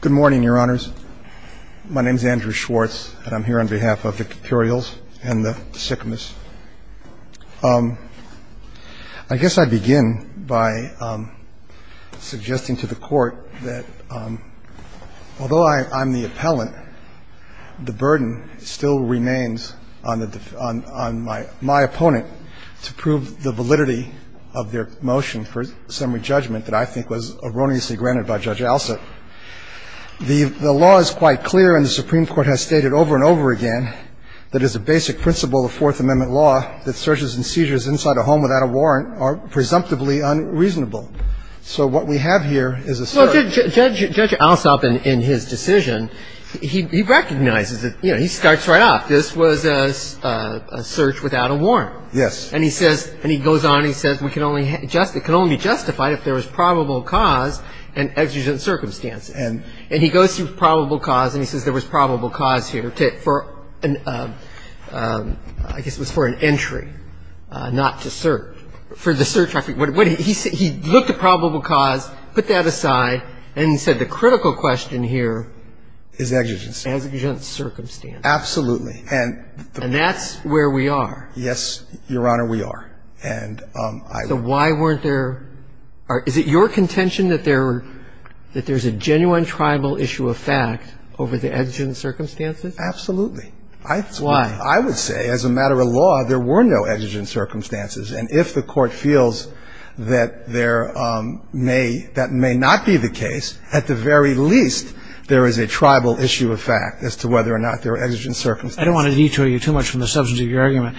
Good morning, Your Honors. My name is Andrew Schwartz, and I'm here on behalf of the Cuperials and the Sycamores. I guess I begin by suggesting to the Court that although I'm the appellant, the burden still remains on my opponent to prove the validity of their motion for summary judgment that I think was erroneously granted by Judge Alsop. The law is quite clear, and the Supreme Court has stated over and over again that as a basic principle of Fourth Amendment law, that searches and seizures inside a home without a warrant are presumptively unreasonable. So what we have here is a search. Well, Judge Alsop, in his decision, he recognizes it. You know, he starts right off. This was a search without a warrant. Yes. And he says – and he goes on and he says we can only – it can only be justified if there was probable cause and exigent circumstances. And he goes through probable cause, and he says there was probable cause here for – I guess it was for an entry, not to search. For the search – he looked at probable cause, put that aside, and he said the critical question here is exigent. Exigent circumstances. Absolutely. And that's where we are. Yes, Your Honor, we are. And I – So why weren't there – is it your contention that there – that there's a genuine tribal issue of fact over the exigent circumstances? Absolutely. I – Why? I would say as a matter of law, there were no exigent circumstances. And if the Court feels that there may – that may not be the case, at the very least there is a tribal issue of fact as to whether or not there were exigent circumstances. I don't want to detour you too much from the substance of your argument.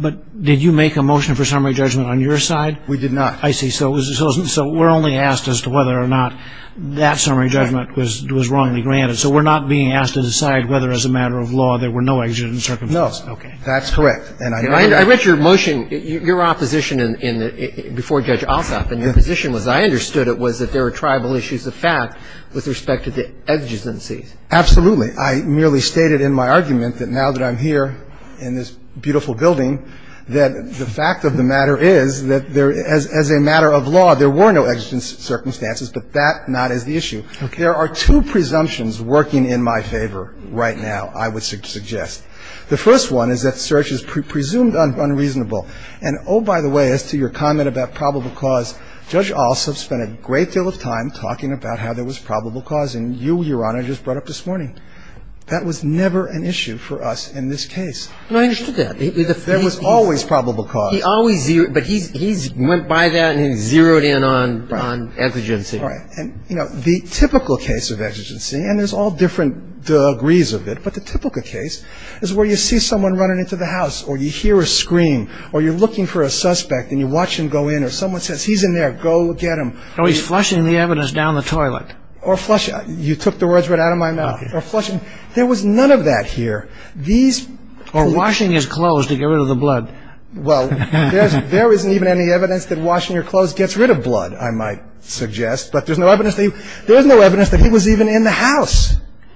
But did you make a motion for summary judgment on your side? We did not. I see. So it was – so we're only asked as to whether or not that summary judgment was wrongly granted. So we're not being asked to decide whether as a matter of law there were no exigent circumstances. No. Okay. That's correct. And I – I read your motion – your opposition in the – before Judge Alsop, and your position was – I understood it was that there were tribal issues of fact with respect to the exigencies. Absolutely. I merely stated in my argument that now that I'm here in this beautiful building that the fact of the matter is that there – as a matter of law, there were no exigent circumstances, but that not as the issue. Okay. There are two presumptions working in my favor right now, I would suggest. The first one is that search is presumed unreasonable. And oh, by the way, as to your comment about probable cause, Judge Alsop spent a great about how there was probable cause, and you, Your Honor, just brought up this morning. That was never an issue for us in this case. No, I understood that. There was always probable cause. He always – but he went by that and he zeroed in on exigency. Right. And, you know, the typical case of exigency, and there's all different degrees of it, but the typical case is where you see someone running into the house, or you hear a scream, or you're looking for a suspect, and you watch him go in, or someone says, he's in there, go get him. Oh, he's flushing the evidence down the toilet. Or flushing – you took the words right out of my mouth. Or flushing – there was none of that here. These – Or washing his clothes to get rid of the blood. Well, there isn't even any evidence that washing your clothes gets rid of blood, I might suggest. But there's no evidence that he was even in the house.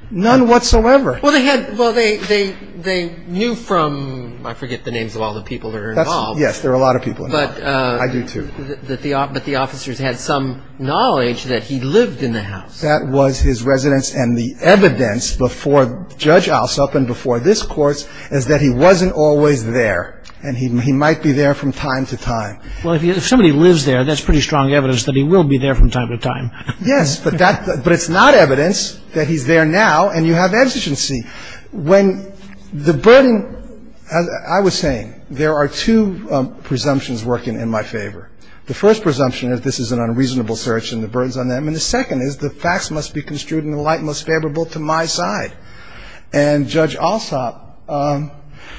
None whatsoever. Well, they had – well, they knew from – I forget the names of all the people that are involved. Yes, there are a lot of people involved. I do, too. But the officers had some knowledge that he lived in the house. That was his residence. And the evidence before Judge Alsop and before this Court is that he wasn't always there, and he might be there from time to time. Well, if somebody lives there, that's pretty strong evidence that he will be there from time to time. Yes, but that – but it's not evidence that he's there now, and you have exigency. When the burden – as I was saying, there are two presumptions working in my favor. The first presumption is this is an unreasonable search and the burden's on them. And the second is the facts must be construed in the light most favorable to my side. And Judge Alsop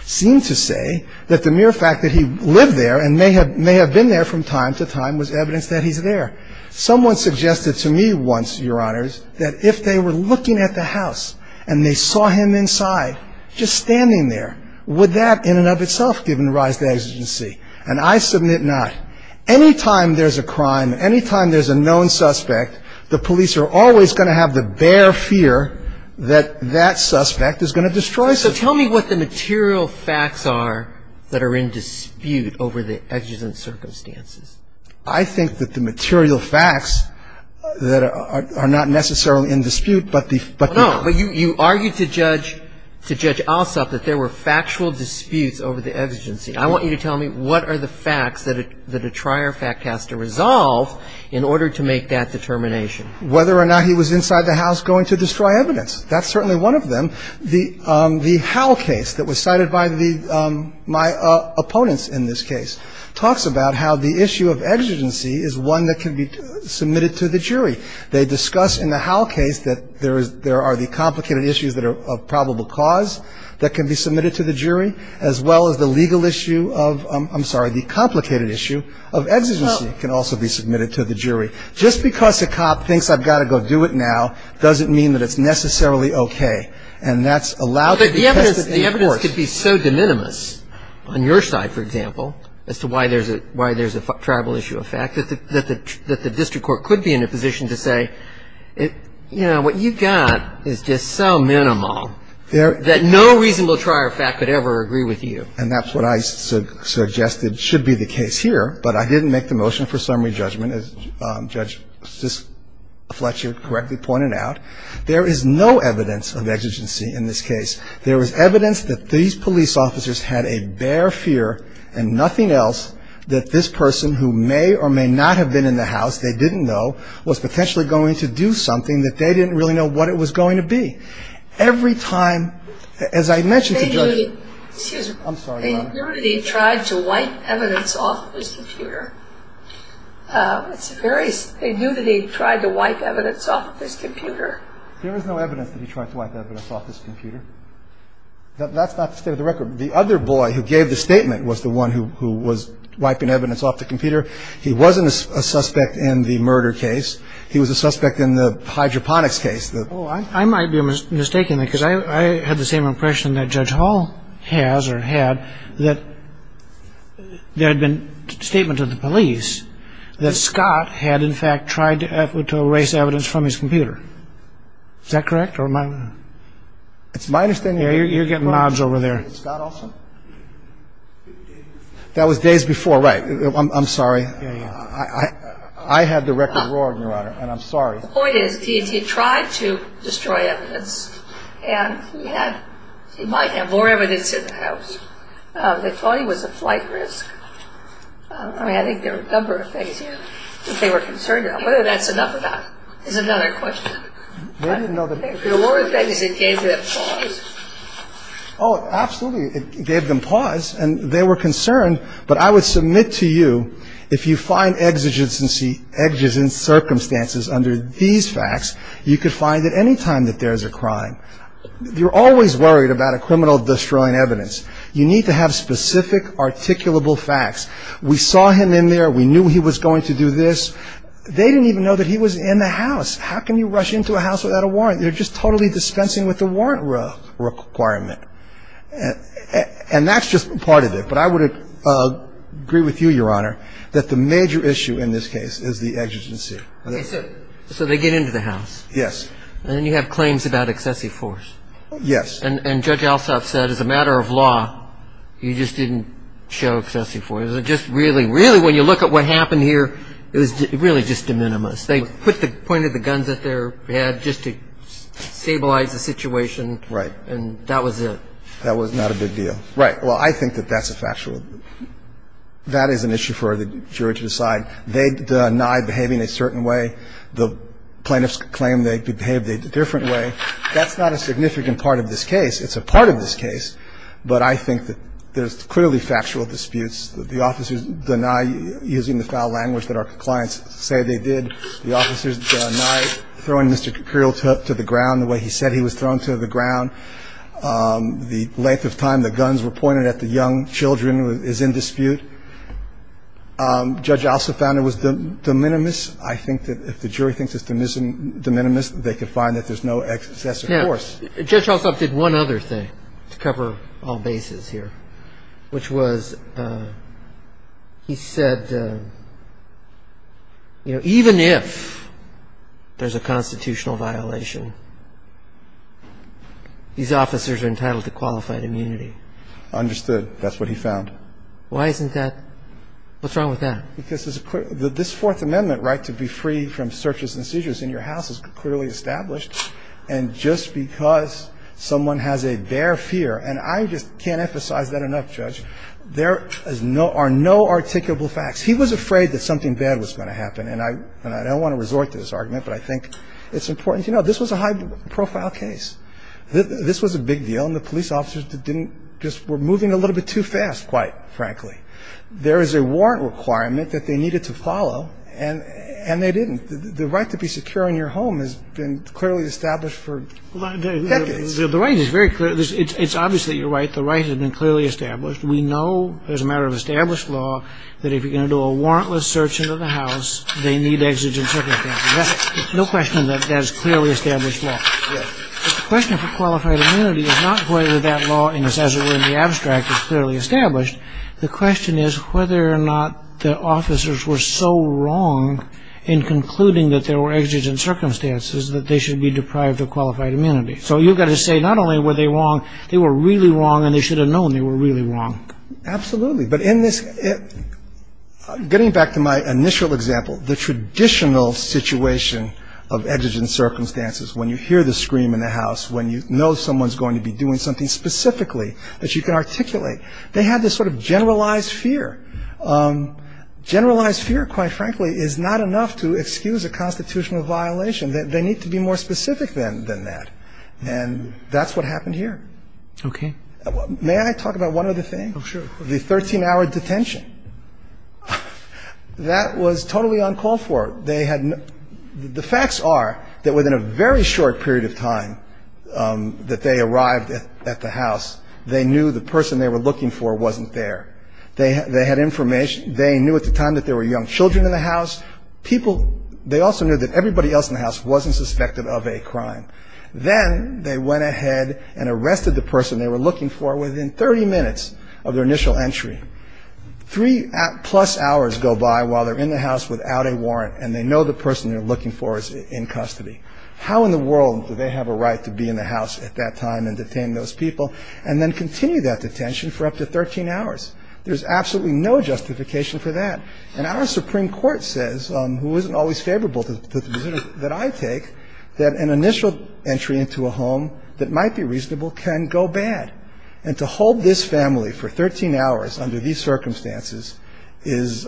seemed to say that the mere fact that he lived there and may have been there from time to time was evidence that he's there. Someone suggested to me once, Your Honors, that if they were looking at the house and they saw him inside, just standing there, would that in and of itself give them rise to exigency? And I submit not. Any time there's a crime, any time there's a known suspect, the police are always going to have the bare fear that that suspect is going to destroy something. So tell me what the material facts are that are in dispute over the exigent circumstances. I think that the material facts that are not necessarily in dispute, but the – No. But you argued to Judge – to Judge Alsop that there were factual disputes over the exigency. I want you to tell me what are the facts that a trier fact has to resolve in order to make that determination. Whether or not he was inside the house going to destroy evidence. That's certainly one of them. The Howell case that was cited by the – my opponents in this case talks about how the issue of exigency is one that can be submitted to the jury. They discuss in the Howell case that there is – there are the complicated issues that are of probable cause that can be submitted to the jury, as well as the legal issue of – I'm sorry, the complicated issue of exigency can also be submitted to the jury. Just because a cop thinks I've got to go do it now doesn't mean that it's necessarily okay. And that's allowed to be tested in court. But the evidence could be so de minimis on your side, for example, as to why there's a – why there's a triable issue of fact that the district court could be in a position to say, you know, what you've got is just so minimal that no reasonable trier fact could ever agree with you. And that's what I suggested should be the case here. But I didn't make the motion for summary judgment, as Judge Fletcher correctly pointed out. There is no evidence of exigency in this case. There was evidence that these police officers had a bare fear, and nothing else, that this person who may or may not have been in the house, they didn't know, was potentially going to do something that they didn't really know what it was going to be. Every time – as I mentioned to Judge – Excuse me. I'm sorry, Your Honor. They knew that he tried to wipe evidence off of his computer. That's not the state of the record. The other boy who gave the statement was the one who was wiping evidence off the computer. He wasn't a suspect in the murder case. He was a suspect in the hydroponics case. Oh, I might be mistaken, because I had the same impression that Judge Hall has or had, that there had been a statement of the police officer, that Scott had, in fact, tried to erase evidence from his computer. Is that correct? It's my understanding – You're getting nods over there. That was days before, right? I'm sorry. I had the record wrong, Your Honor, and I'm sorry. The point is, he tried to destroy evidence, and he might have more evidence in the house. They thought he was a flight risk. I mean, I think there were a number of things that they were concerned about. Whether that's enough of that is another question. They didn't know the – The only thing is, it gave them pause. Oh, absolutely. It gave them pause, and they were concerned. But I would submit to you, if you find exigent circumstances under these facts, you could find that any time that there is a crime. You're always worried about a criminal destroying evidence. You need to have specific, articulable facts. We saw him in there. We knew he was going to do this. They didn't even know that he was in the house. How can you rush into a house without a warrant? They're just totally dispensing with the warrant requirement. And that's just part of it. But I would agree with you, Your Honor, that the major issue in this case is the exigency. So they get into the house. Yes. And then you have claims about excessive force. Yes. And Judge Alsop said, as a matter of law, you just didn't show excessive force. It was just really – really, when you look at what happened here, it was really just de minimis. They put the point of the guns at their head just to stabilize the situation. Right. And that was it. That was not a big deal. Right. Well, I think that that's a factual – that is an issue for the jury to decide. They deny behaving a certain way. The plaintiffs claim they behaved a different way. That's not a significant part of this case. It's a part of this case. But I think that there's clearly factual disputes. The officers deny using the foul language that our clients say they did. The officers deny throwing Mr. Kirill to the ground the way he said he was thrown to the ground. The length of time the guns were pointed at the young children is in dispute. Judge Alsop found it was de minimis. I think that if the jury thinks it's de minimis, they can find that there's no excessive force. Now, Judge Alsop did one other thing to cover all bases here, which was he said, you know, even if there's a constitutional violation, these officers are entitled to qualified immunity. Understood. That's what he found. Why isn't that – what's wrong with that? Because this Fourth Amendment right to be free from searches and seizures in your house is clearly established. And just because someone has a bare fear – and I just can't emphasize that enough, Judge. There are no articulable facts. He was afraid that something bad was going to happen. And I don't want to resort to this argument, but I think it's important to know. This was a high-profile case. This was a big deal, and the police officers didn't – just were moving a little bit too fast, quite frankly. There is a warrant requirement that they needed to follow, and they didn't. The right to be secure in your home has been clearly established for decades. The right is very clear. It's obvious that you're right. The right has been clearly established. We know as a matter of established law that if you're going to do a warrantless search into the house, they need exigent circumstances. No question that that is clearly established law. But the question for qualified immunity is not whether that law, as it were in the abstract, is clearly established. The question is whether or not the officers were so wrong in concluding that there were exigent circumstances that they should be deprived of qualified immunity. So you've got to say not only were they wrong, they were really wrong, and they should have known they were really wrong. Absolutely. But in this – getting back to my initial example, the traditional situation of exigent circumstances, when you hear the scream in the house, when you know someone's going to be doing something specifically that you can articulate, they had this sort of generalized fear. Generalized fear, quite frankly, is not enough to excuse a constitutional violation. They need to be more specific than that. And that's what happened here. Okay. May I talk about one other thing? Oh, sure. The 13-hour detention. That was totally uncalled for. They had – the facts are that within a very short period of time that they arrived at the house, they knew the person they were looking for wasn't there. They had information. They knew at the time that there were young children in the house. People – they also knew that everybody else in the house wasn't suspected of a crime. Then they went ahead and arrested the person they were looking for within 30 minutes of their initial entry. Three-plus hours go by while they're in the house without a warrant, and they know the person they're looking for is in custody. How in the world do they have a right to be in the house at that time and detain those people? And then continue that detention for up to 13 hours. There's absolutely no justification for that. And our Supreme Court says, who isn't always favorable to the position that I take, that an initial entry into a home that might be reasonable can go bad. And to hold this family for 13 hours under these circumstances is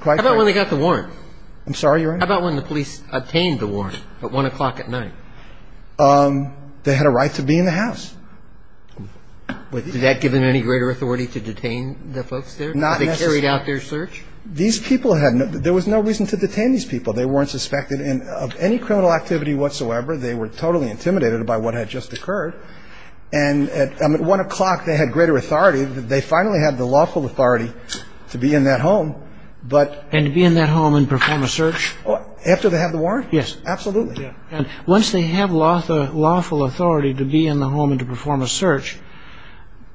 quite – How about when they got the warrant? I'm sorry, Your Honor? How about when the police obtained the warrant at 1 o'clock at night? They had a right to be in the house. Was that given any greater authority to detain the folks there? Not necessarily. Were they carried out their search? These people had – there was no reason to detain these people. They weren't suspected of any criminal activity whatsoever. They were totally intimidated by what had just occurred. And at 1 o'clock, they had greater authority. They finally had the lawful authority to be in that home, but – And to be in that home and perform a search? After they had the warrant? Yes. Absolutely. And once they have lawful authority to be in the home and to perform a search,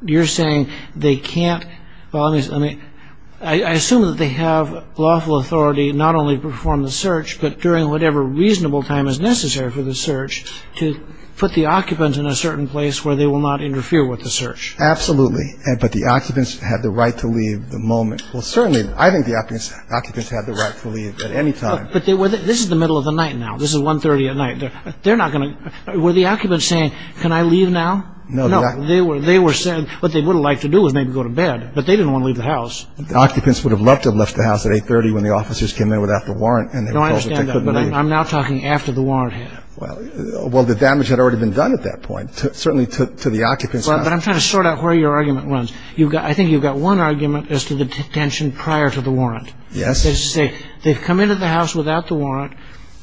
you're saying they can't – I assume that they have lawful authority not only to perform the search, but during whatever reasonable time is necessary for the search to put the occupant in a certain place where they will not interfere with the search. Absolutely. But the occupants had the right to leave the moment. Well, certainly, I think the occupants had the right to leave at any time. This is the middle of the night now. This is 1.30 at night. They're not going to – were the occupants saying, can I leave now? No. They were saying what they would have liked to do was maybe go to bed, but they didn't want to leave the house. The occupants would have loved to have left the house at 8.30 when the officers came in without the warrant. No, I understand that, but I'm now talking after the warrant had. Well, the damage had already been done at that point, certainly to the occupants. But I'm trying to sort out where your argument runs. I think you've got one argument as to the detention prior to the warrant. Yes. That is to say, they've come into the house without the warrant.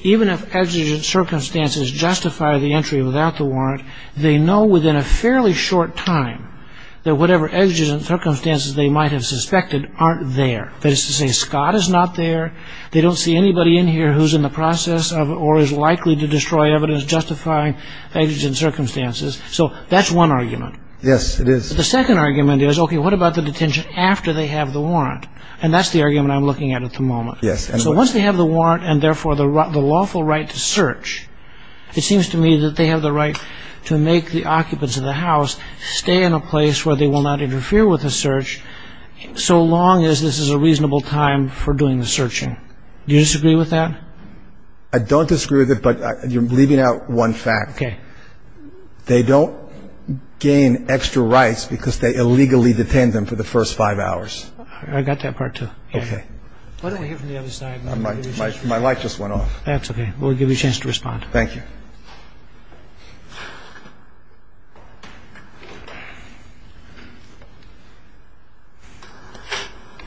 Even if exigent circumstances justify the entry without the warrant, they know within a fairly short time that whatever exigent circumstances they might have suspected aren't there. That is to say, Scott is not there. They don't see anybody in here who's in the process of or is likely to destroy evidence justifying exigent circumstances. So that's one argument. Yes, it is. But the second argument is, okay, what about the detention after they have the warrant? And that's the argument I'm looking at at the moment. Yes. So once they have the warrant and, therefore, the lawful right to search, it seems to me that they have the right to make the occupants of the house stay in a place where they will not interfere with the search so long as this is a reasonable time for doing the searching. Do you disagree with that? I don't disagree with it, but you're leaving out one fact. Okay. They don't gain extra rights because they illegally detain them for the first five hours. I got that part, too. Okay. Why don't we hear from the other side? My light just went off. That's okay. We'll give you a chance to respond. Thank you.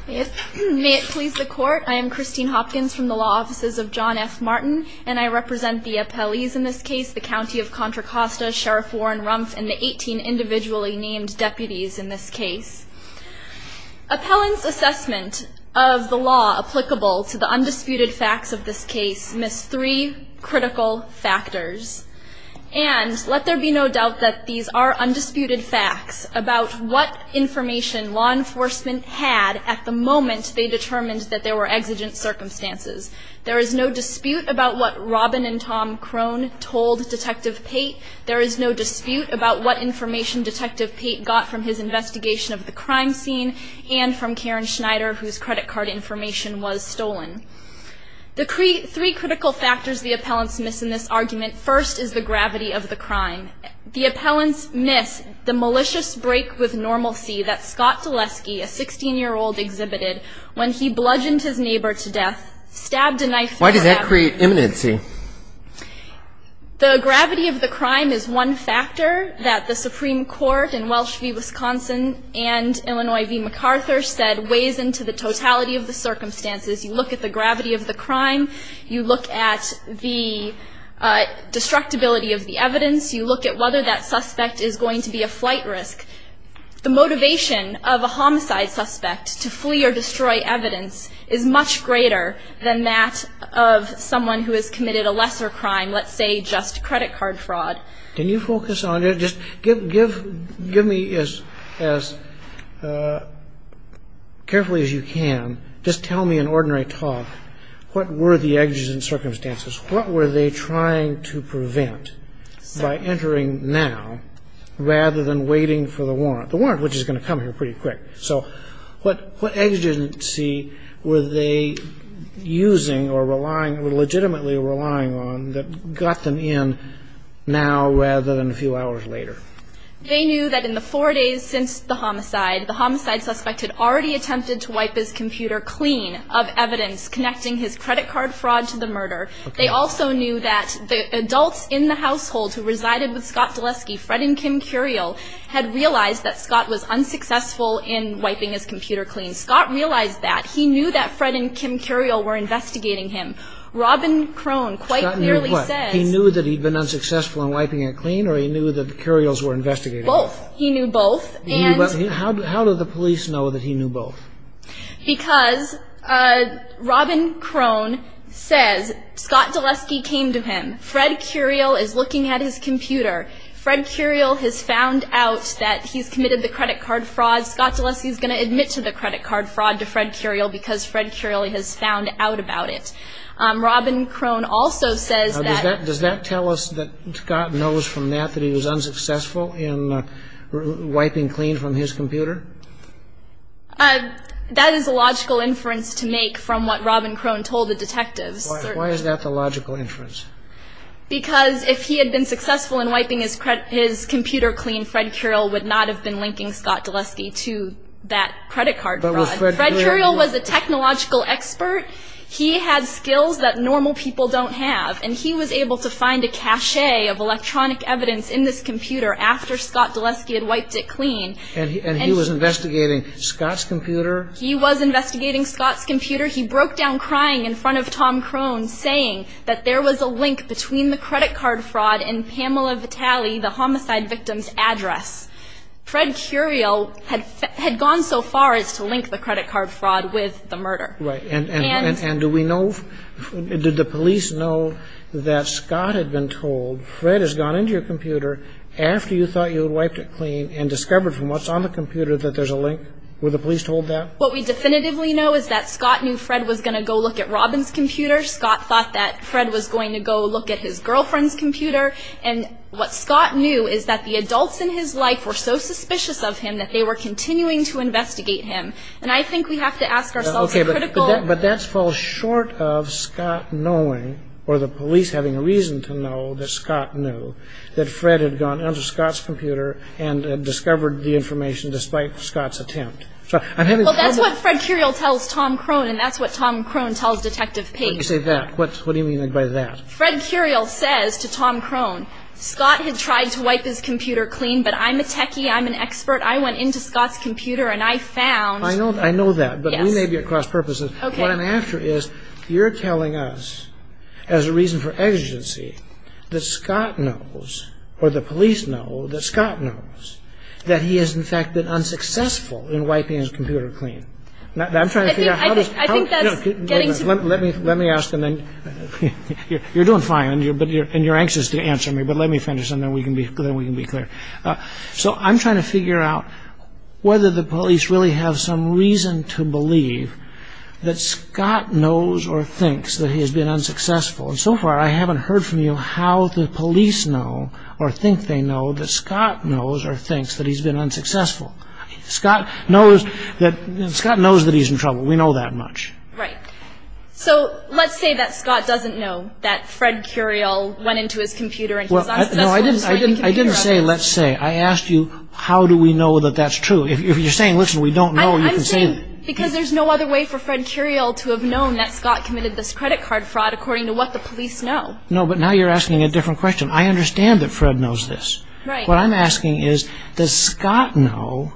May it please the Court. I am Christine Hopkins from the law offices of John F. Martin, and I represent the appellees in this case, the County of Contra Costa, Sheriff Warren Rumpf, and the 18 individually named deputies in this case. Appellant's assessment of the law applicable to the undisputed facts of this case missed three critical factors, and let there be no doubt that these are undisputed facts about what information law enforcement had at the moment they determined that there were exigent circumstances. There is no dispute about what Robin and Tom Crone told Detective Pate. There is no dispute about what information Detective Pate got from his investigation of the crime scene and from Karen Schneider, whose credit card information was stolen. The three critical factors the appellants miss in this argument, first, is the gravity of the crime. The appellants miss the malicious break with normalcy that Scott Dulesky, a 16-year-old, exhibited when he bludgeoned his neighbor to death, stabbed a knife through her abdomen. Why did that create imminency? The gravity of the crime is one factor that the Supreme Court in Welsh v. Wisconsin and Illinois v. MacArthur said weighs into the totality of the circumstances. You look at the gravity of the crime. You look at the destructibility of the evidence. You look at whether that suspect is going to be a flight risk. The motivation of a homicide suspect to flee or destroy evidence is much greater than that of someone who has committed a lesser crime, let's say just credit card fraud. Can you focus on it? Just give me as carefully as you can, just tell me in ordinary talk, what were the exigent circumstances? What were they trying to prevent by entering now rather than waiting for the warrant? The warrant, which is going to come here pretty quick. So what exigency were they using or relying, legitimately relying on, that got them in now rather than a few hours later? They knew that in the four days since the homicide, the homicide suspect had already attempted to wipe his computer clean of evidence connecting his credit card fraud to the murder. They also knew that the adults in the household who resided with Scott Dulesky, Fred and Kim Curiel, had realized that Scott was unsuccessful in wiping his computer clean. Scott realized that. He knew that Fred and Kim Curiel were investigating him. Robin Crone quite clearly says... Scott knew what? He knew that he'd been unsuccessful in wiping it clean or he knew that the Curiels were investigating him? Both. He knew both. He knew both. How did the police know that he knew both? Because Robin Crone says Scott Dulesky came to him. Fred Curiel is looking at his computer. Fred Curiel has found out that he's committed the credit card fraud. Scott Dulesky is going to admit to the credit card fraud to Fred Curiel because Fred Curiel has found out about it. Robin Crone also says that... Does that tell us that Scott knows from that that he was unsuccessful in wiping clean from his computer? That is a logical inference to make from what Robin Crone told the detectives. Why is that the logical inference? Because if he had been successful in wiping his computer clean, Fred Curiel would not have been linking Scott Dulesky to that credit card fraud. Fred Curiel was a technological expert. He had skills that normal people don't have. And he was able to find a cache of electronic evidence in this computer after Scott Dulesky had wiped it clean. And he was investigating Scott's computer? He was investigating Scott's computer. Later, he broke down crying in front of Tom Crone, saying that there was a link between the credit card fraud and Pamela Vitale, the homicide victim's address. Fred Curiel had gone so far as to link the credit card fraud with the murder. Right. And do we know, did the police know that Scott had been told, Fred has gone into your computer after you thought you had wiped it clean and discovered from what's on the computer that there's a link? Were the police told that? What we definitively know is that Scott knew Fred was going to go look at Robin's computer. Scott thought that Fred was going to go look at his girlfriend's computer. And what Scott knew is that the adults in his life were so suspicious of him that they were continuing to investigate him. And I think we have to ask ourselves a critical... But that falls short of Scott knowing, or the police having a reason to know that Scott knew, that Fred had gone into Scott's computer and discovered the information despite Scott's attempt. Well, that's what Fred Curiel tells Tom Krohn, and that's what Tom Krohn tells Detective Page. Why do you say that? What do you mean by that? Fred Curiel says to Tom Krohn, Scott had tried to wipe his computer clean, but I'm a techie, I'm an expert, I went into Scott's computer and I found... I know that, but we may be at cross purposes. What I'm after is, you're telling us, as a reason for exigency, that Scott knows, or the police know, that Scott knows, that he has, in fact, been unsuccessful in wiping his computer clean. I'm trying to figure out how does... I think that's getting to... Let me ask, and then... You're doing fine, and you're anxious to answer me, but let me finish, and then we can be clear. So I'm trying to figure out whether the police really have some reason to believe that Scott knows or thinks that he has been unsuccessful. And so far, I haven't heard from you how the police know, or think they know, that Scott knows or thinks that he's been unsuccessful. Scott knows that he's in trouble, we know that much. Right. So let's say that Scott doesn't know that Fred Curiel went into his computer... Well, I didn't say let's say. I asked you how do we know that that's true. If you're saying, listen, we don't know, you can say... I'm saying because there's no other way for Fred Curiel to have known that Scott committed this credit card fraud according to what the police know. No, but now you're asking a different question. I understand that Fred knows this. Right. What I'm asking is, does Scott know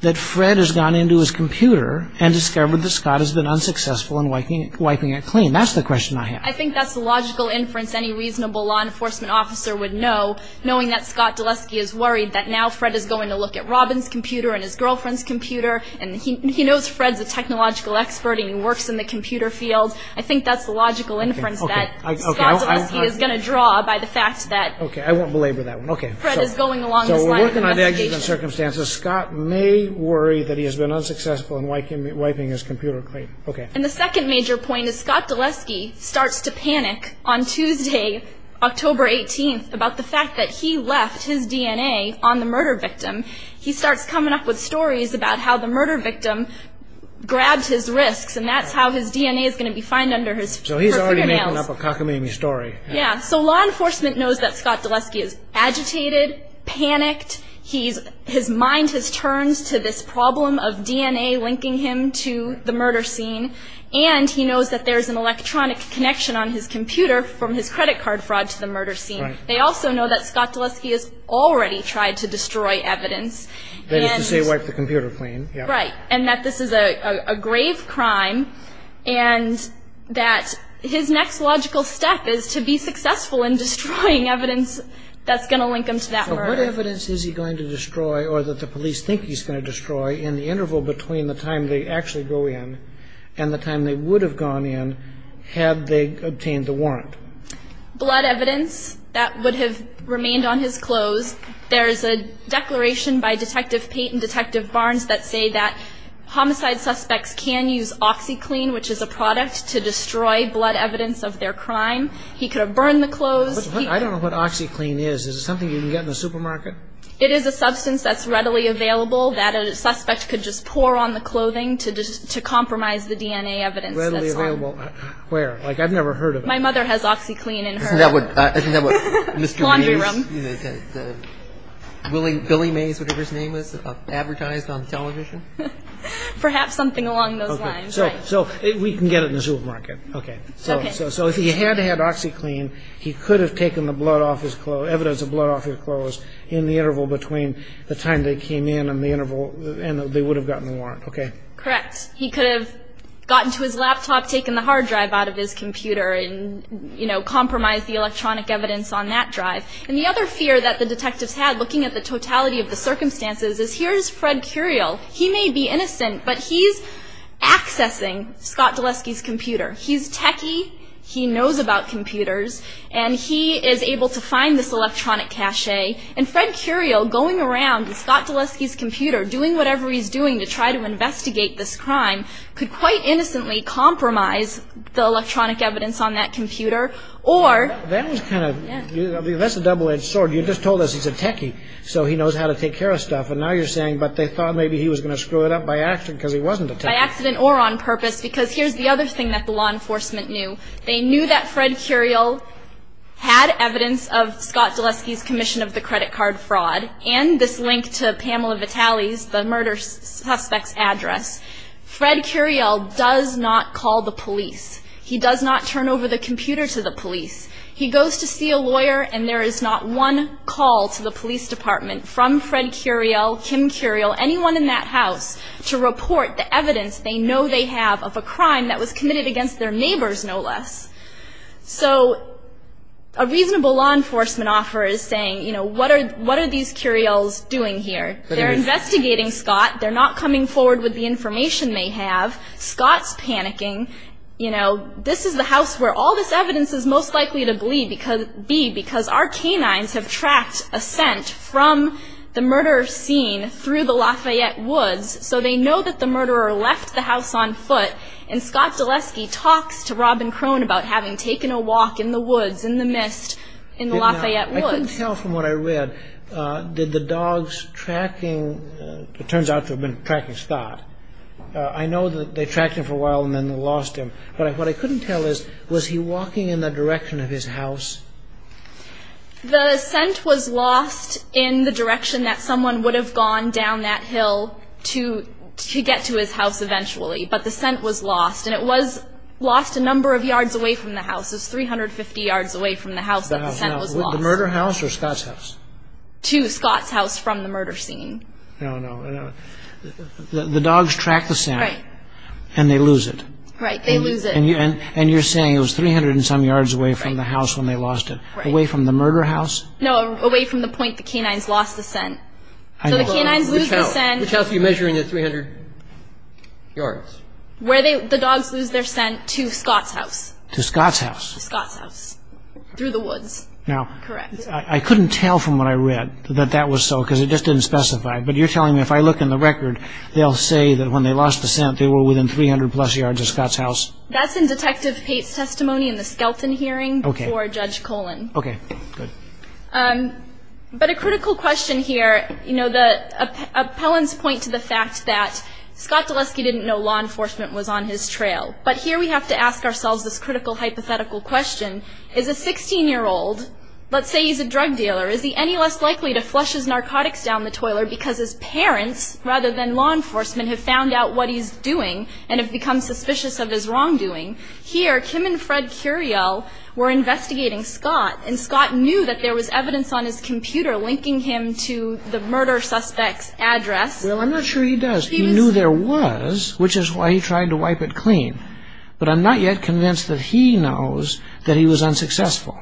that Fred has gone into his computer and discovered that Scott has been unsuccessful in wiping it clean? That's the question I have. I think that's the logical inference any reasonable law enforcement officer would know, knowing that Scott Dulesky is worried that now Fred is going to look at Robin's computer and his girlfriend's computer, and he knows Fred's a technological expert and he works in the computer field. I think that's the logical inference that Scott Dulesky is going to draw by the fact that Fred is going along this line of investigation. Okay, I won't belabor that one. So we're working on the exigent circumstances. Scott may worry that he has been unsuccessful in wiping his computer clean. And the second major point is Scott Dulesky starts to panic on Tuesday, October 18th, about the fact that he left his DNA on the murder victim. He starts coming up with stories about how the murder victim grabbed his wrists, and that's how his DNA is going to be found under his fingernails. So he's already making up a cockamamie story. Yeah, so law enforcement knows that Scott Dulesky is agitated, panicked. His mind has turned to this problem of DNA linking him to the murder scene, and he knows that there's an electronic connection on his computer from his credit card fraud to the murder scene. They also know that Scott Dulesky has already tried to destroy evidence. That is to say wipe the computer clean. Right, and that this is a grave crime, and that his next logical step is to be successful in destroying evidence that's going to link him to that murder. So what evidence is he going to destroy, or that the police think he's going to destroy, in the interval between the time they actually go in and the time they would have gone in had they obtained the warrant? Blood evidence that would have remained on his clothes. There is a declaration by Detective Pate and Detective Barnes that say that homicide suspects can use OxyClean, which is a product to destroy blood evidence of their crime. He could have burned the clothes. I don't know what OxyClean is. Is it something you can get in the supermarket? It is a substance that's readily available that a suspect could just pour on the clothing to compromise the DNA evidence. Readily available. Where? Like I've never heard of it. My mother has OxyClean in her laundry room. Billy Mays, whatever his name is, advertised on television? Perhaps something along those lines. So we can get it in the supermarket. Okay. So if he had had OxyClean, he could have taken the evidence of blood off his clothes in the interval between the time they came in and they would have gotten the warrant, okay? Correct. He could have gotten to his laptop, taken the hard drive out of his computer, and compromised the electronic evidence on that drive. And the other fear that the detectives had, looking at the totality of the circumstances, is here's Fred Curiel. He may be innocent, but he's accessing Scott Dulesky's computer. He's techie. He knows about computers. And he is able to find this electronic cache. And Fred Curiel, going around Scott Dulesky's computer, doing whatever he's doing to try to investigate this crime, could quite innocently compromise the electronic evidence on that computer. That's a double-edged sword. You just told us he's a techie, so he knows how to take care of stuff. And now you're saying, but they thought maybe he was going to screw it up by accident because he wasn't a techie. By accident or on purpose. Because here's the other thing that the law enforcement knew. They knew that Fred Curiel had evidence of Scott Dulesky's commission of the credit card fraud and this link to Pamela Vitale's, the murder suspect's, address. Fred Curiel does not call the police. He does not turn over the computer to the police. He goes to see a lawyer, and there is not one call to the police department, from Fred Curiel, Kim Curiel, anyone in that house, to report the evidence they know they have of a crime that was committed against their neighbors, no less. So a reasonable law enforcement offer is saying, you know, what are these Curiels doing here? They're investigating Scott. They're not coming forward with the information they have. Scott's panicking. You know, this is the house where all this evidence is most likely to be because our canines have tracked a scent from the murder scene through the Lafayette woods, so they know that the murderer left the house on foot, and Scott Dulesky talks to Robin Crone about having taken a walk in the woods, in the mist, in the Lafayette woods. I couldn't tell from what I read. Did the dogs tracking, it turns out they've been tracking Scott. I know that they tracked him for a while and then they lost him, but what I couldn't tell is, was he walking in the direction of his house? The scent was lost in the direction that someone would have gone down that hill to get to his house eventually, but the scent was lost, and it was lost a number of yards away from the house. It was 350 yards away from the house that the scent was lost. The murder house or Scott's house? To Scott's house from the murder scene. The dogs track the scent, and they lose it. Right, they lose it. And you're saying it was 300 and some yards away from the house when they lost it, away from the murder house? No, away from the point the canines lost the scent. So the canines lose the scent. Which house are you measuring at 300 yards? Where the dogs lose their scent, to Scott's house. To Scott's house. To Scott's house, through the woods. Now, I couldn't tell from what I read that that was so, because it just didn't specify. But you're telling me if I look in the record, they'll say that when they lost the scent, they were within 300-plus yards of Scott's house? That's in Detective Pate's testimony in the Skelton hearing before Judge Colon. Okay, good. But a critical question here, you know, the appellants point to the fact that Scott Dulesky didn't know law enforcement was on his trail. But here we have to ask ourselves this critical hypothetical question. Is a 16-year-old, let's say he's a drug dealer, is he any less likely to flush his narcotics down the toilet because his parents, rather than law enforcement, have found out what he's doing and have become suspicious of his wrongdoing? Here, Kim and Fred Curiel were investigating Scott, and Scott knew that there was evidence on his computer linking him to the murder suspect's address. Well, I'm not sure he does. He knew there was, which is why he tried to wipe it clean. But I'm not yet convinced that he knows that he was unsuccessful.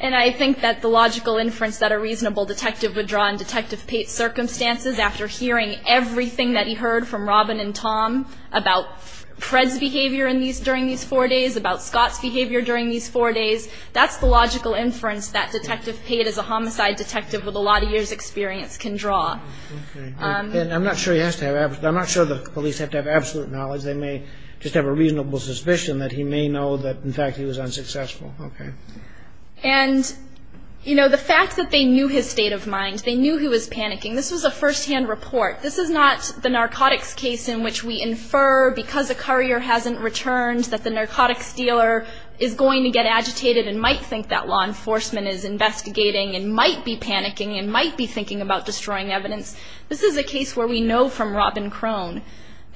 And I think that the logical inference that a reasonable detective would draw in Detective Pate's circumstances, after hearing everything that he heard from Robin and Tom about Fred's behavior during these four days, about Scott's behavior during these four days, that's the logical inference that Detective Pate, as a homicide detective with a lot of years' experience, can draw. Okay. And I'm not sure he has to have absolute ñ I'm not sure the police have to have absolute knowledge. They may just have a reasonable suspicion that he may know that he was involved but, in fact, he was unsuccessful. Okay. And, you know, the fact that they knew his state of mind, they knew he was panicking, this was a first-hand report. This is not the narcotics case in which we infer, because a courier hasn't returned, that the narcotics dealer is going to get agitated and might think that law enforcement is investigating and might be panicking and might be thinking about destroying evidence. This is a case where we know from Robin Crone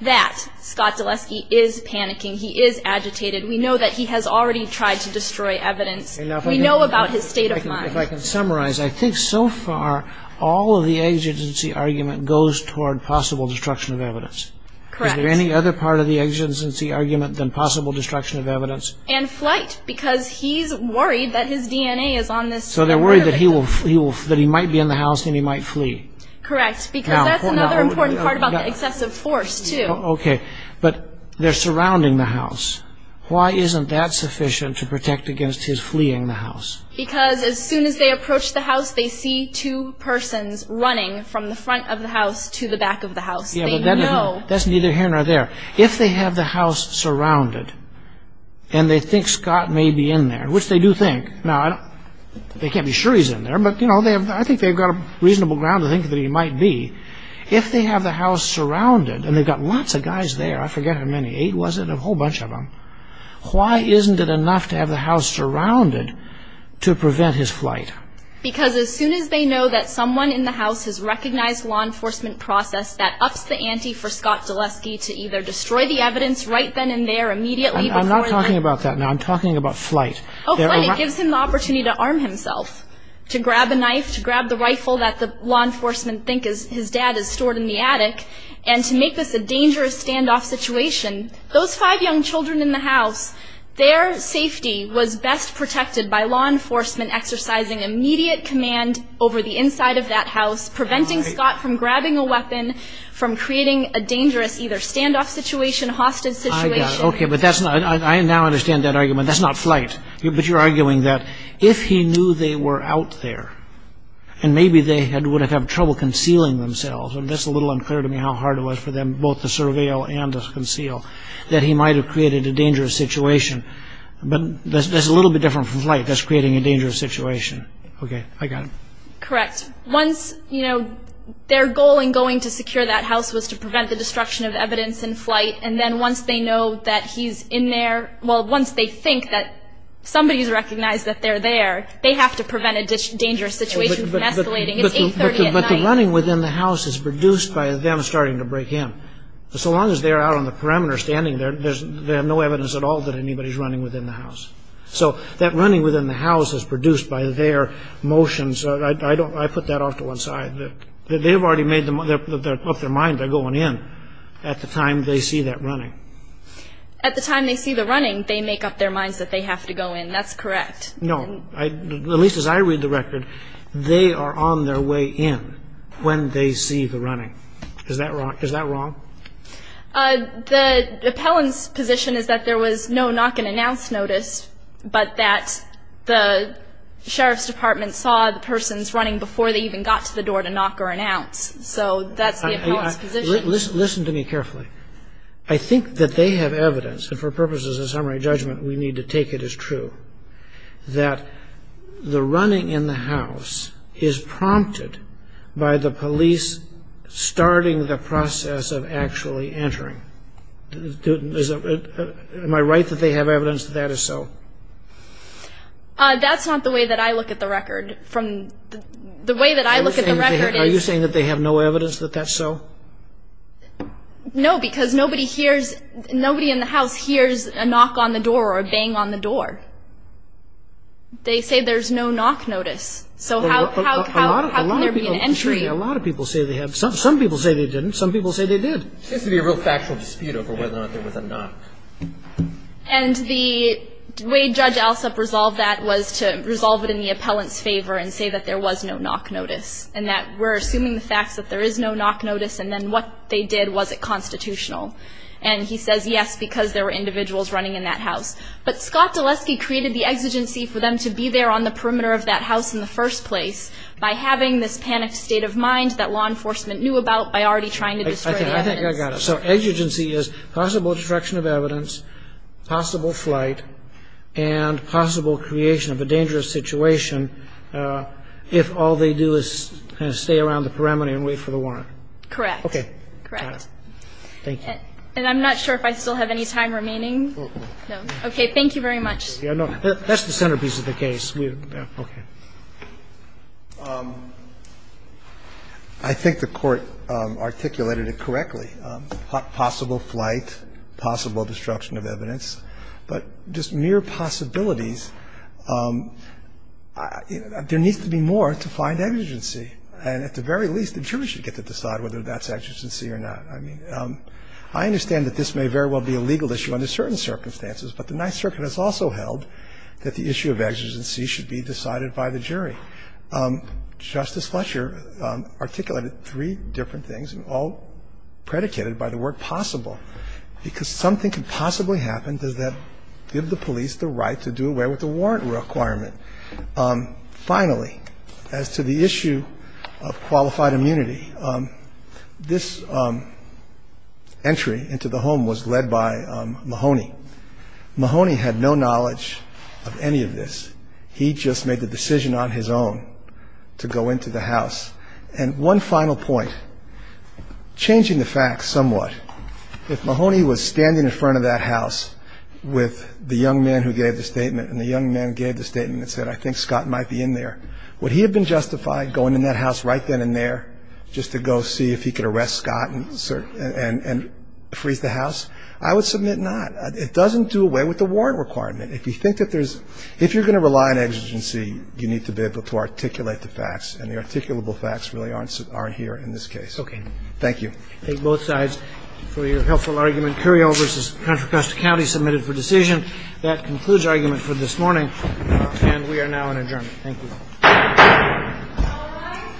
that Scott Zaleski is panicking. He is agitated. We know that he has already tried to destroy evidence. We know about his state of mind. If I can summarize, I think so far all of the exigency argument goes toward possible destruction of evidence. Correct. Is there any other part of the exigency argument than possible destruction of evidence? And flight, because he's worried that his DNA is on this. So they're worried that he might be in the house and he might flee. Correct, because that's another important part about the excessive force, too. Okay. But they're surrounding the house. Why isn't that sufficient to protect against his fleeing the house? Because as soon as they approach the house, they see two persons running from the front of the house to the back of the house. They know. That's neither here nor there. If they have the house surrounded and they think Scott may be in there, which they do think. Now, they can't be sure he's in there, but I think they've got a reasonable ground to think that he might be. If they have the house surrounded, and they've got lots of guys there. I forget how many. Eight, was it? A whole bunch of them. Why isn't it enough to have the house surrounded to prevent his flight? Because as soon as they know that someone in the house has recognized law enforcement process that ups the ante for Scott Gillespie to either destroy the evidence right then and there, immediately before them. I'm not talking about that now. Flight gives him the opportunity to arm himself, to grab a knife, to grab the rifle that the law enforcement think his dad has stored in the attic, and to make this a dangerous standoff situation. Those five young children in the house, their safety was best protected by law enforcement exercising immediate command over the inside of that house, preventing Scott from grabbing a weapon, from creating a dangerous either standoff situation, hostage situation. I got it. Okay, but that's not. I now understand that argument. That's not flight. But you're arguing that if he knew they were out there, and maybe they would have had trouble concealing themselves, and that's a little unclear to me how hard it was for them both to surveil and to conceal, that he might have created a dangerous situation. But that's a little bit different from flight. That's creating a dangerous situation. Okay, I got it. Correct. Once, you know, their goal in going to secure that house was to prevent the destruction of evidence in flight, and then once they know that he's in there, well, once they think that somebody's recognized that they're there, they have to prevent a dangerous situation from escalating. It's 830 at night. But the running within the house is produced by them starting to break in. So long as they're out on the perimeter standing there, there's no evidence at all that anybody's running within the house. So that running within the house is produced by their motions. I put that off to one side. They've already made up their mind they're going in at the time they see that running. At the time they see the running, they make up their minds that they have to go in. That's correct. No. At least as I read the record, they are on their way in when they see the running. Is that wrong? The appellant's position is that there was no knock and announce notice, but that the sheriff's department saw the person's running before they even got to the door to knock or announce. So that's the appellant's position. Listen to me carefully. I think that they have evidence, and for purposes of summary judgment we need to take it as true, that the running in the house is prompted by the police starting the process of actually entering. Am I right that they have evidence that that is so? That's not the way that I look at the record. The way that I look at the record is... Are you saying that they have no evidence that that's so? No, because nobody in the house hears a knock on the door or a bang on the door. They say there's no knock notice. So how can there be an entry? A lot of people say they have. Some people say they didn't. Some people say they did. There seems to be a real factual dispute over whether or not there was a knock. And the way Judge Alsop resolved that was to resolve it in the appellant's favor and say that there was no knock notice and that we're assuming the facts that there is no knock notice and then what they did wasn't constitutional. And he says yes, because there were individuals running in that house. But Scott Dulesky created the exigency for them to be there on the perimeter of that house in the first place by having this panicked state of mind that law enforcement knew about by already trying to destroy the evidence. I think I got it. So exigency is possible destruction of evidence, possible flight, and possible creation of a dangerous situation if all they do is kind of stay around the perimeter and wait for the warrant. Correct. Okay. Correct. Thank you. And I'm not sure if I still have any time remaining. No. Okay. Thank you very much. That's the centerpiece of the case. Okay. I think the Court articulated it correctly. Possible flight, possible destruction of evidence. But just mere possibilities. There needs to be more to find exigency. And at the very least, the jury should get to decide whether that's exigency or not. I mean, I understand that this may very well be a legal issue under certain circumstances, but the Ninth Circuit has also held that the issue of exigency should be decided by the jury. Justice Fletcher articulated three different things, all predicated by the word possible, because something could possibly happen. Does that give the police the right to do away with the warrant requirement? Finally, as to the issue of qualified immunity, this entry into the home was led by Mahoney. Mahoney had no knowledge of any of this. He just made the decision on his own to go into the house. And one final point, changing the facts somewhat, if Mahoney was standing in front of that house with the young man who gave the statement, and the young man gave the statement and said, I think Scott might be in there, would he have been justified going in that house right then and there just to go see if he could arrest Scott and freeze the house? I would submit not. It doesn't do away with the warrant requirement. If you think that there's ‑‑ if you're going to rely on exigency, you need to be able to articulate the facts, and the articulable facts really aren't here in this case. Okay. Thank you. I thank both sides for your helpful argument. Curiel v. Contra Costa County submitted for decision. That concludes argument for this morning, and we are now in adjournment. Thank you. All rise.